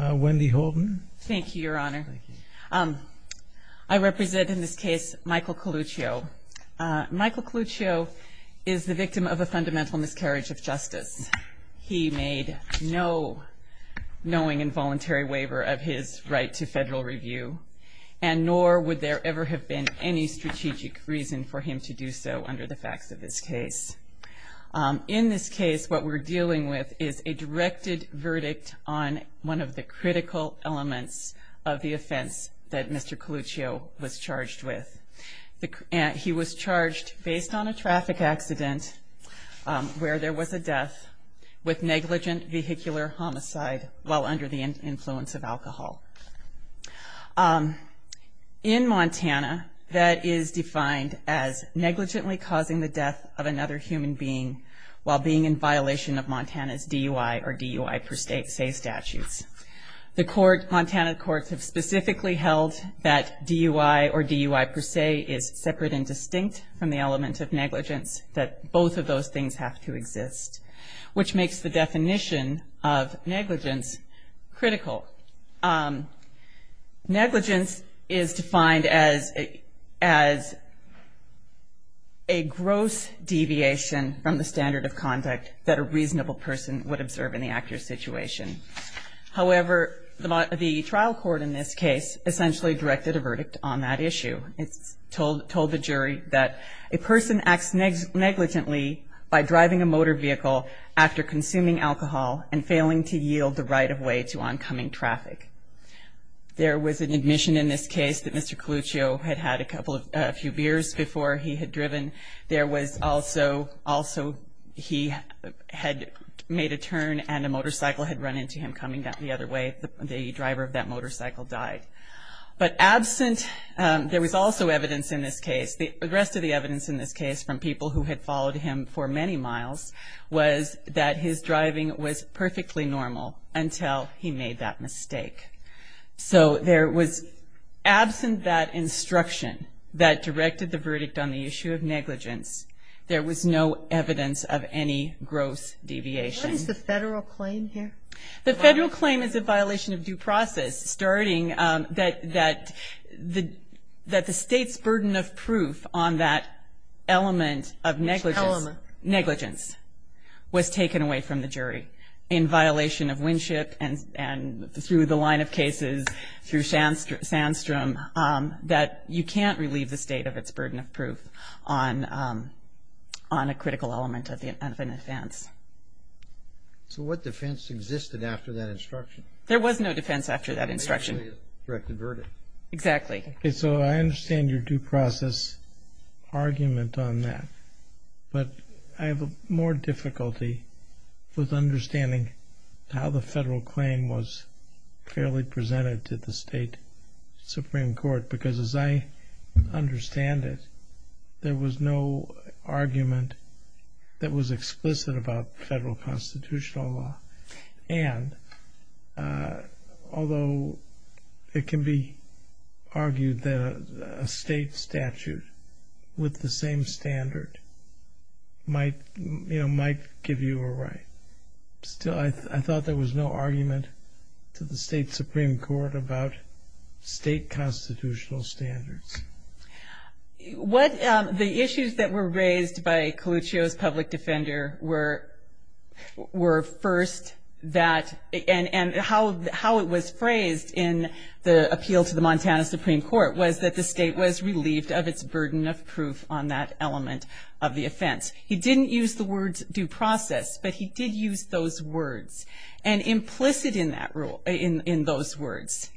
Wendy Holden thank you your honor I represent in this case Michael Coluccio Michael Coluccio is the victim of a fundamental miscarriage of justice he made no knowing involuntary waiver of his right to federal review and nor would there ever have been any strategic reason for him to do so under the facts of this case in this case what we're dealing with is a directed verdict on one of the critical elements of the offense that Mr. Coluccio was charged with he was charged based on a traffic accident where there was a death with negligent vehicular homicide while under the influence of alcohol in Montana that is defined as negligently causing the death of another human being while being in violation of Montana's DUI or DUI per se statutes. The court Montana courts have specifically held that DUI or DUI per se is separate and distinct from the element of negligence that both of those things have to exist which makes the definition of negligence critical. Negligence is defined as as a gross deviation from the standard of conduct that a reasonable person would observe in the accurate situation. However, the trial court in this case essentially directed a verdict on that issue. It told the jury that a person acts negligently by driving a motor vehicle after consuming alcohol and failing to yield the right of way to oncoming traffic. There was an admission in this case that Mr. Coluccio had had a couple of few beers before he had made a turn and a motorcycle had run into him coming down the other way. The driver of that motorcycle died. But absent, there was also evidence in this case, the rest of the evidence in this case from people who had followed him for many miles was that his driving was perfectly normal until he made that mistake. So there was absent that instruction that directed the verdict on the issue of negligence. There was no evidence of any gross deviation. What is the federal claim here? The federal claim is a violation of due process starting that the state's burden of proof on that element of negligence was taken away from the jury in violation of Winship and through the line of cases through Sandstrom that you can't relieve the state of its burden of proof on a critical element of an offense. So what defense existed after that instruction? There was no defense after that instruction. Directed verdict. Exactly. So I understand your due process argument on that, but I have more difficulty with understanding how the federal claim was clearly presented to the state Supreme Court because as I understand it, there was no argument that was explicit about federal constitutional law. And although it can be argued that a state statute with the same standard might give you a right, still I thought there was no argument to the state Supreme Court about state constitutional standards. What the issues that were raised by Coluccio's public defender were first that and how it was phrased in the appeal to the Montana Supreme Court was that the state was relieved of its burden of proof on that element of the offense. He didn't use the words due process, but he did use those words. And implicit in those words,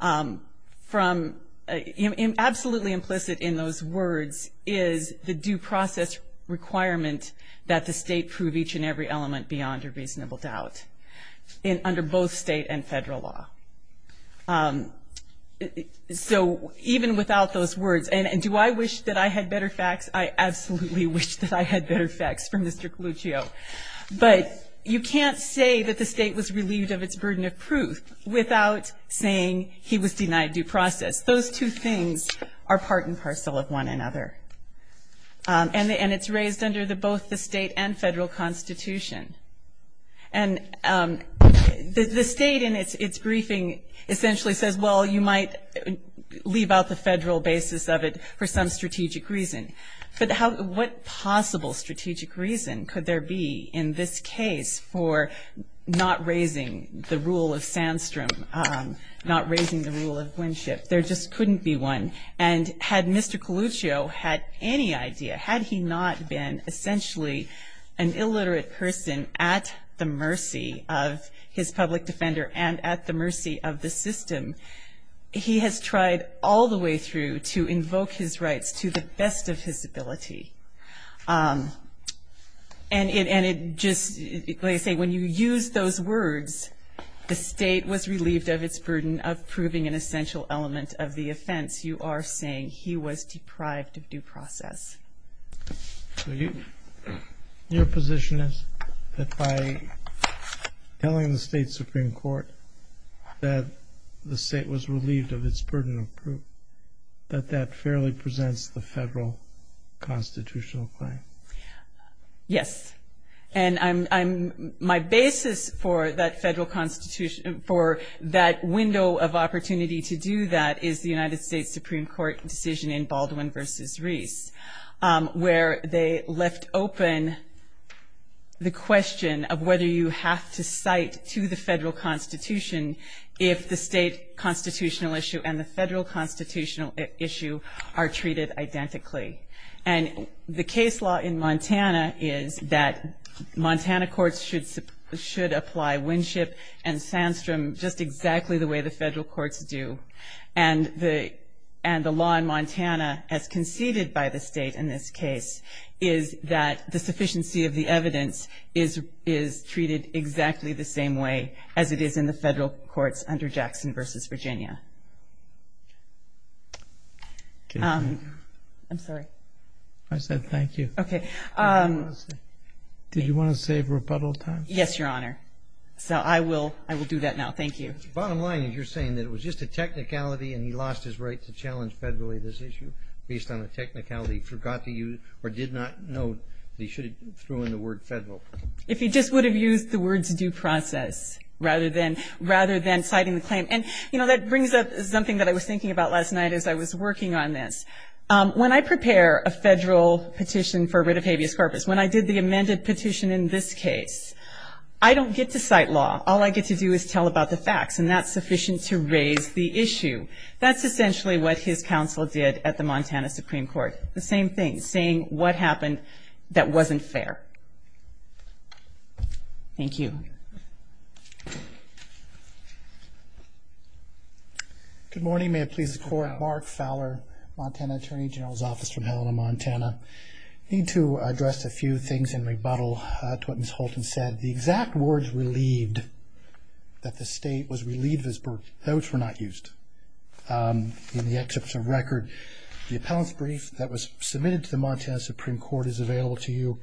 absolutely implicit in those words is the due process requirement that the state prove each and every element beyond your reasonable doubt under both state and federal law. So even without those words, and do I wish that I absolutely wish that I had better facts from Mr. Coluccio, but you can't say that the state was relieved of its burden of proof without saying he was denied due process. Those two things are part and parcel of one another. And it's raised under both the state and federal constitution. And the state in its briefing essentially says, well, you might leave out the federal basis of it for some possible strategic reason could there be in this case for not raising the rule of Sandstrom, not raising the rule of Winship. There just couldn't be one. And had Mr. Coluccio had any idea, had he not been essentially an illiterate person at the mercy of his public defender and at the mercy of the system, he has tried all the way through to invoke his rights to the best of his ability. And it just, like I say, when you use those words, the state was relieved of its burden of proving an essential element of the offense, you are saying he was deprived of due process. Your position is that by telling the state Supreme Court that the state was relieved of its burden of proof, that that fairly presents the federal constitutional claim. Yes. And I'm, my basis for that federal constitution, for that window of opportunity to do that is the United States Supreme Court decision in Baldwin versus Reese, where they left open the question of whether you have to cite to the federal constitution if the state constitutional issue and the federal constitutional issue are treated identically. And the case law in Montana is that Montana courts should apply Winship and Sandstrom just exactly the way the federal courts do. And the law in Montana, as conceded by the state in this case, is that the sufficiency of the evidence is treated exactly the same way as it is in the federal courts under Jackson versus Virginia. I'm sorry. I said thank you. Okay. Did you want to save rebuttal time? Yes, Your Honor. So I will, I will do that now. Thank you. Bottom line is you're saying that it was just a technicality and he lost his right to challenge federally this issue based on a technicality he forgot to use or did not know that he should have thrown in the word federal. If he just would have used the words due process rather than, rather than citing the claim. And, you know, that brings up something that I was thinking about last night as I was working on this. When I prepare a federal petition for rid of habeas corpus, when I did the amended petition in this case, I don't get to cite law. All I get to do is tell about the facts and that's sufficient to raise the issue. That's essentially what his counsel did at the Montana Supreme Court. The same thing, saying what happened that wasn't fair. Thank you. Good morning. May it please the court. Mark Fowler, Montana Attorney General's office from Helena, Montana. Need to address a few things in rebuttal to what Ms. Holton said. The exact words relieved, that the state was relieved of his birth, those were not used. In the excerpts of record, the appellant's brief that was submitted to the Montana Supreme Court is available to you.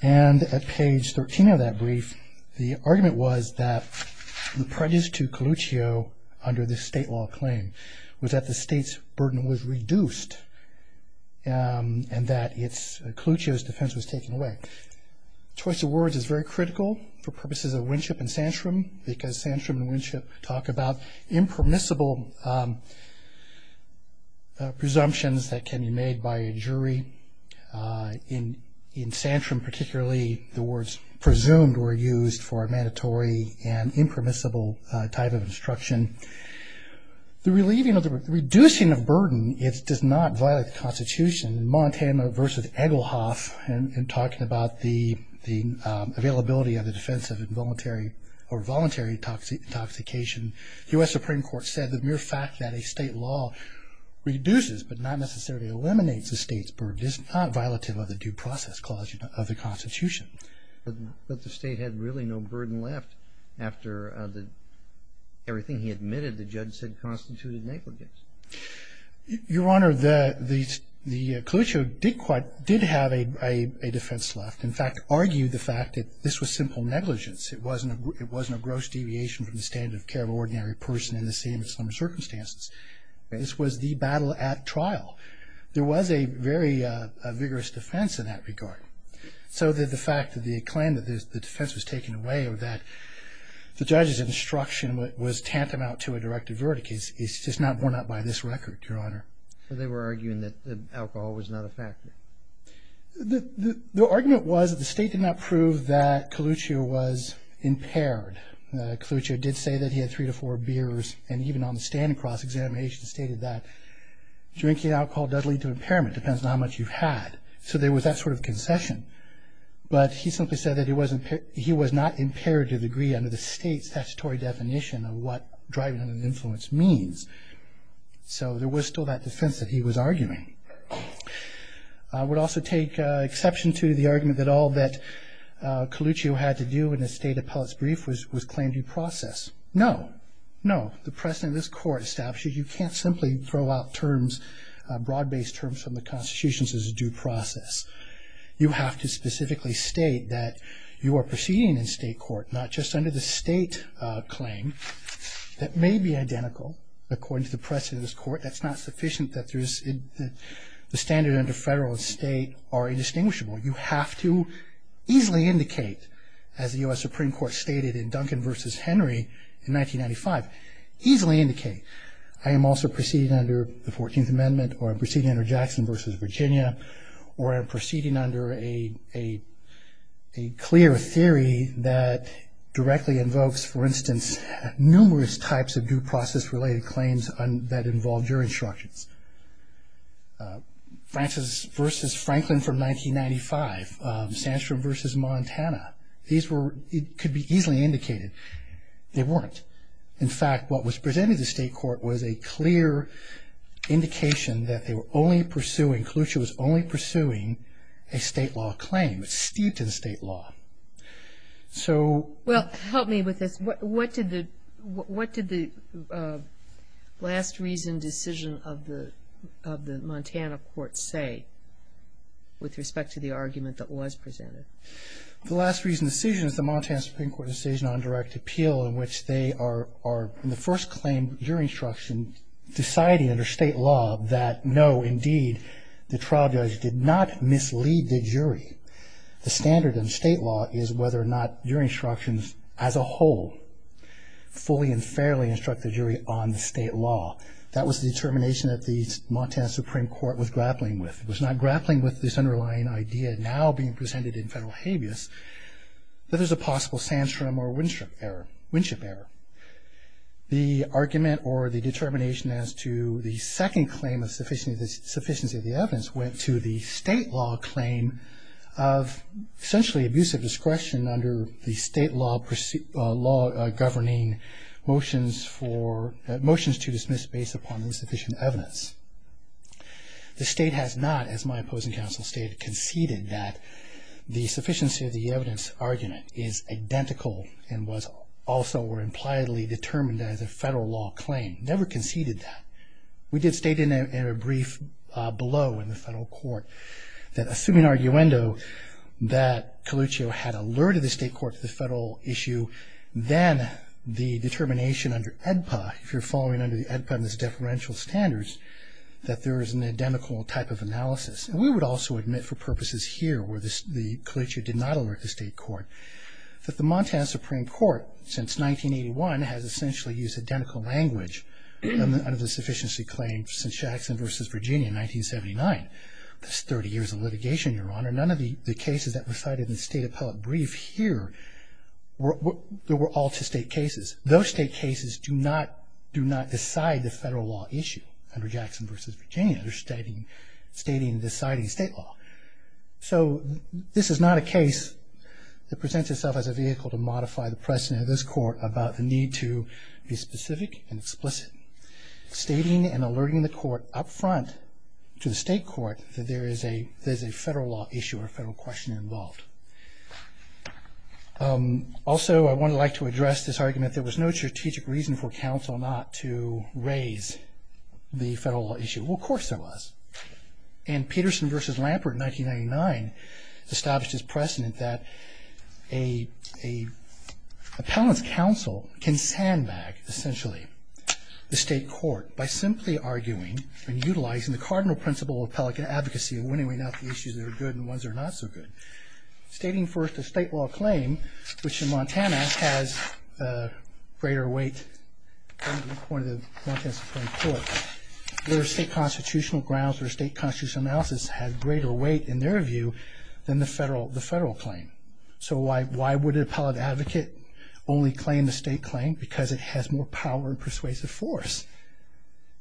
And at page 13 of that brief, the argument was that the prejudice to Coluccio under the state law claim was that the state's burden was reduced and that it's, Coluccio's defense was taken away. Choice of words is very critical for purposes of Winship and we're talking about impermissible presumptions that can be made by a jury. In Santrum particularly, the words presumed were used for a mandatory and impermissible type of instruction. The relieving of the, reducing of burden, it does not violate the Constitution. In Montana versus Egelhoff, and talking about the, the availability of the defense of involuntary or voluntary intoxication, the US Supreme Court said the mere fact that a state law reduces but not necessarily eliminates the state's burden is not violative of the due process clause of the Constitution. But, but the state had really no burden left after the, everything he admitted the judge said constituted negligence. Your Honor, the, the, the Coluccio did quite, did have a, a, a defense left. In fact, argued the fact that this was simple negligence. It wasn't a, it wasn't a gross deviation from the standard of care of an ordinary person in the same circumstances. This was the battle at trial. There was a very vigorous defense in that regard. So that the fact that the claim that the defense was taken away or that the judge's instruction was tantamount to a directive verdict is, is just not borne out by this record, Your Honor. So they were arguing that the alcohol was not a factor. The, the, the argument was that the state did not prove that Coluccio was impaired. Coluccio did say that he had three to four beers and even on the standing cross examination stated that drinking alcohol does lead to impairment, depends on how much you've had. So there was that sort of concession. But he simply said that he wasn't, he was not impaired to a degree under the state's statutory definition of what driving an influence means. So there was still that defense that he was impaired. I would also take exception to the argument that all that Coluccio had to do in the state appellate's brief was, was claim due process. No, no. The precedent of this court establishes you can't simply throw out terms, broad based terms from the constitutions as a due process. You have to specifically state that you are proceeding in state court, not just under the state claim. That may be identical according to the precedent of this court. That's not sufficient that the standard under federal and state are indistinguishable. You have to easily indicate, as the U.S. Supreme Court stated in Duncan v. Henry in 1995, easily indicate, I am also proceeding under the 14th Amendment or I'm proceeding under Jackson v. Virginia or I'm proceeding under a clear theory that directly invokes, for instance, numerous types of due process related claims that involved your instructions. Francis v. Franklin from 1995, Sandstrom v. Montana, these were, could be easily indicated. They weren't. In fact, what was presented to the state court was a clear indication that they were only pursuing, Coluccio was only pursuing a state law claim. It's steeped in state law. So... Well, help me with this. What did the last reason decision of the Montana court say with respect to the argument that was presented? The last reason decision is the Montana Supreme Court decision on direct appeal in which they are in the first claim, your instruction, deciding under state law that no, indeed, the trial judge did not mislead the jury. The standard in state law is whether or not your instructions as a whole fully and fairly instruct the jury on the state law. That was the determination that the Montana Supreme Court was grappling with. It was not grappling with this underlying idea now being presented in federal habeas that there's a possible Sandstrom or Winship error, Winship error. The argument or the determination as to the second claim of sufficiency of the evidence went to the state law claim of essentially abusive discretion under the state law governing motions to dismiss based upon insufficient evidence. The state has not, as my opposing counsel stated, conceded that the sufficiency of the evidence argument is identical and was also or impliedly determined as a federal law claim. Never conceded that. We did state in a brief below in the federal court that assuming arguendo that Calucio had alerted the state court to the federal issue, then the determination under EDPA, if you're following under the EDPA and its deferential standards, that there is an identical type of analysis. And we would also admit for purposes here where the Calucio did not alert the state court that the Montana Supreme Court since 1981 has essentially used identical language under the sufficiency claim since Jackson v. Virginia in 1979. That's 30 years of litigation, Your Honor. None of the cases that were cited in the state appellate brief here were all to state cases. Those state cases do not decide the federal law issue under Jackson v. Virginia. They're stating deciding state law. So this is not a case that presents itself as a vehicle to modify the precedent of this court about the need to be specific and explicit. Stating and alerting the court up front to the state court that there is a federal law issue or a federal question involved. Also, I would like to address this argument that there was no strategic reason for counsel not to raise the federal law issue. Well, of course there was. And Peterson v. Lampert in 1999 established his precedent that an appellant's counsel can sandbag essentially the state court by simply arguing and utilizing the cardinal principle of appellate advocacy and winning out the issues that are good and ones that are not so good. Stating first a state law claim, which in Montana has a greater weight, according to the point of the Montana Supreme Court, their state constitutional grounds or state constitutional analysis has greater weight, in their view, than the federal claim. So why would an appellate advocate only claim the state claim? Because it has more power and persuasive force.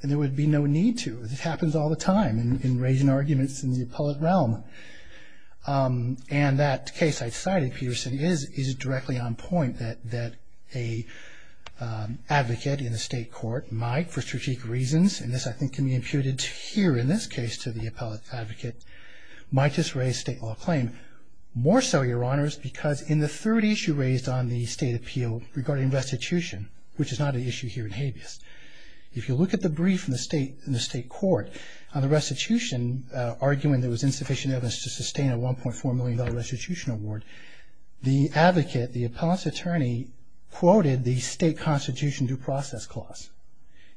And there would be no need to. It happens all the time in raising arguments in the appellate realm. And that case I cited, Peterson, is directly on point, that an advocate in the state court might, for strategic reasons, and this I think can be imputed here in this case to the appellate advocate, might just raise state law claim. More so, Your Honors, because in the third issue raised on the state appeal regarding restitution, which is not an issue here in habeas, if you look at the brief in the state court on the restitution, arguing there was insufficient evidence to sustain a $1.4 million restitution award, the advocate, the appellate's attorney, quoted the state constitution due process clause.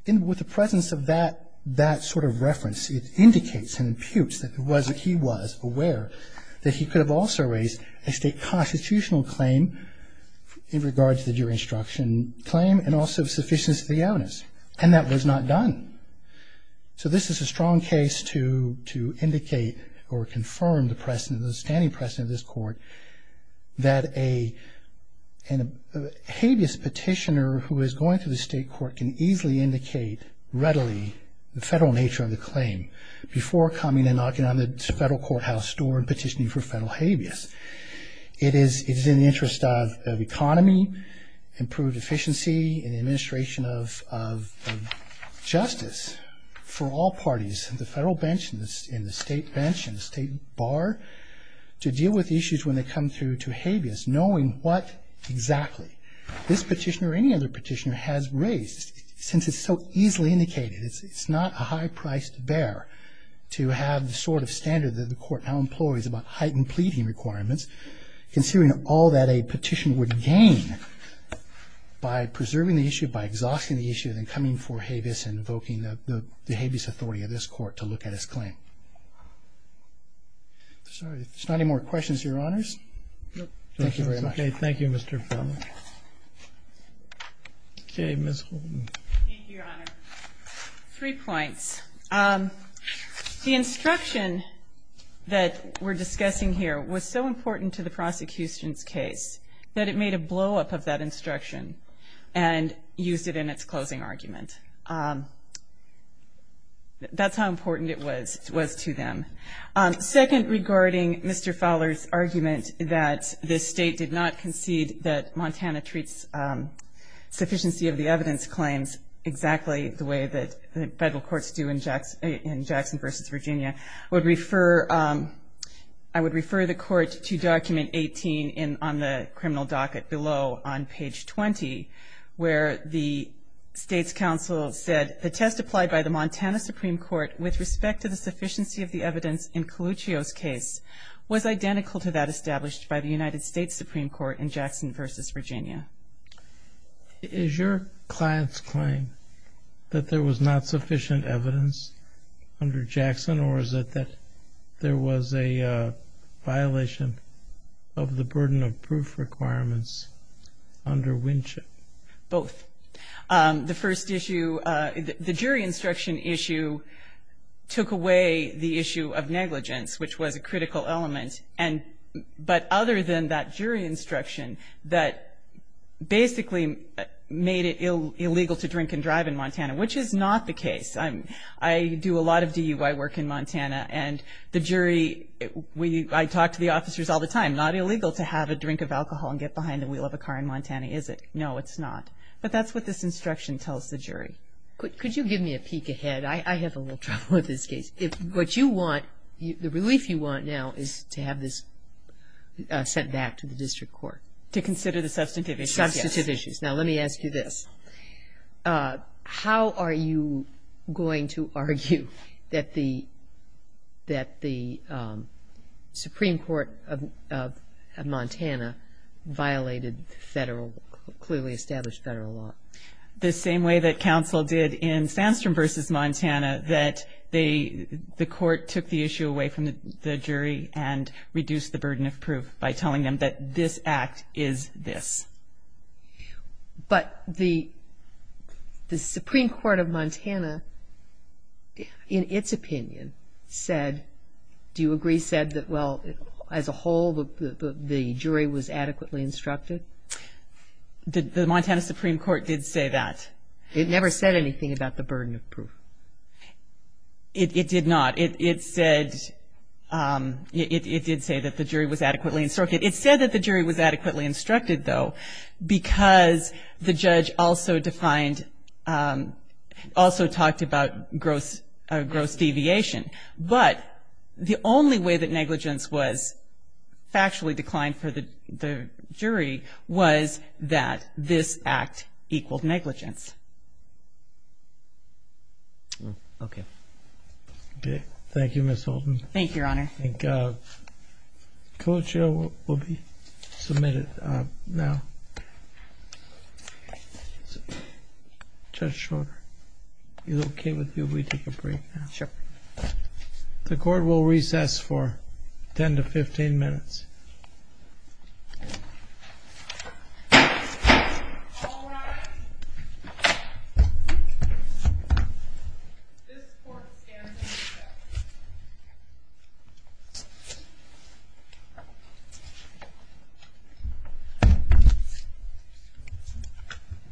And with the presence of that sort of reference, it indicates and imputes that he was aware that he could have also raised a state constitutional claim in regards to the jury instruction claim and also sufficient to the evidence. And that was not done. So this is a strong case to indicate or confirm the standing precedent of this that a habeas petitioner who is going through the state court can easily indicate readily the federal nature of the claim before coming and knocking on the federal courthouse door and petitioning for federal habeas. It is in the interest of economy, improved efficiency, and administration of justice for all parties, the federal bench and the state bench and the state bar, to deal with issues when they come through to habeas, knowing what exactly this petitioner or any other petitioner has raised. Since it's so easily indicated, it's not a high price to bear to have the sort of standard that the court now employs about heightened pleading requirements, considering all that a petitioner would gain by preserving the issue, by exhausting the issue, and then coming for habeas and invoking the habeas authority of this court to look at his claim. I'm sorry. There's not any more questions, Your Honors. Thank you very much. Okay. Thank you, Mr. Feldman. Okay. Ms. Holden. Thank you, Your Honor. Three points. The instruction that we're discussing here was so important to the prosecution's case that it made a blow-up of that instruction and used it in its closing argument. That's how important it was. It was to them. Second, regarding Mr. Fowler's argument that this State did not concede that Montana treats sufficiency of the evidence claims exactly the way that the federal courts do in Jackson v. Virginia, I would refer the Court to Document 18 on the criminal docket below on page 20, where the State's counsel said, The test applied by the Montana Supreme Court with respect to the sufficiency of the evidence in Coluccio's case was identical to that established by the United States Supreme Court in Jackson v. Virginia. Is your client's claim that there was not sufficient evidence under Jackson, or is it that there was a violation of the burden of proof requirements under Winship? Both. The first issue, the jury instruction issue, took away the issue of negligence, which was a critical element. But other than that jury instruction that basically made it illegal to drink and drive in Montana, which is not the case. I do a lot of DUI work in Montana, and the jury, I talk to the officers all the time, not illegal to have a drink of alcohol and get behind the wheel of a car in Montana, is it? No, it's not. But that's what this instruction tells the jury. Could you give me a peek ahead? I have a little trouble with this case. What you want, the relief you want now is to have this sent back to the district court. To consider the substantive issues, yes. Substantive issues. Now, let me ask you this. How are you going to argue that the Supreme Court of Montana violated federal, clearly established federal law? The same way that counsel did in Sandstrom v. Montana, that the court took the issue away from the jury and reduced the burden of proof by telling them that this act is this. But the Supreme Court of Montana, in its opinion, said, do you agree, said that, well, as a whole, the jury was adequately instructed? The Montana Supreme Court did say that. It never said anything about the burden of proof. It did not. It said, it did say that the jury was adequately instructed. It said that the jury was adequately instructed, though, because the judge also defined, also talked about gross deviation. But the only way that negligence was factually declined for the jury was that this act equaled negligence. Okay. Okay. Thank you, Your Honor. I think Coach O will be submitted now. Judge Schroeder, is it okay with you if we take a break now? Sure. The court will recess for 10 to 15 minutes. All rise. This court stands in recess. Thank you.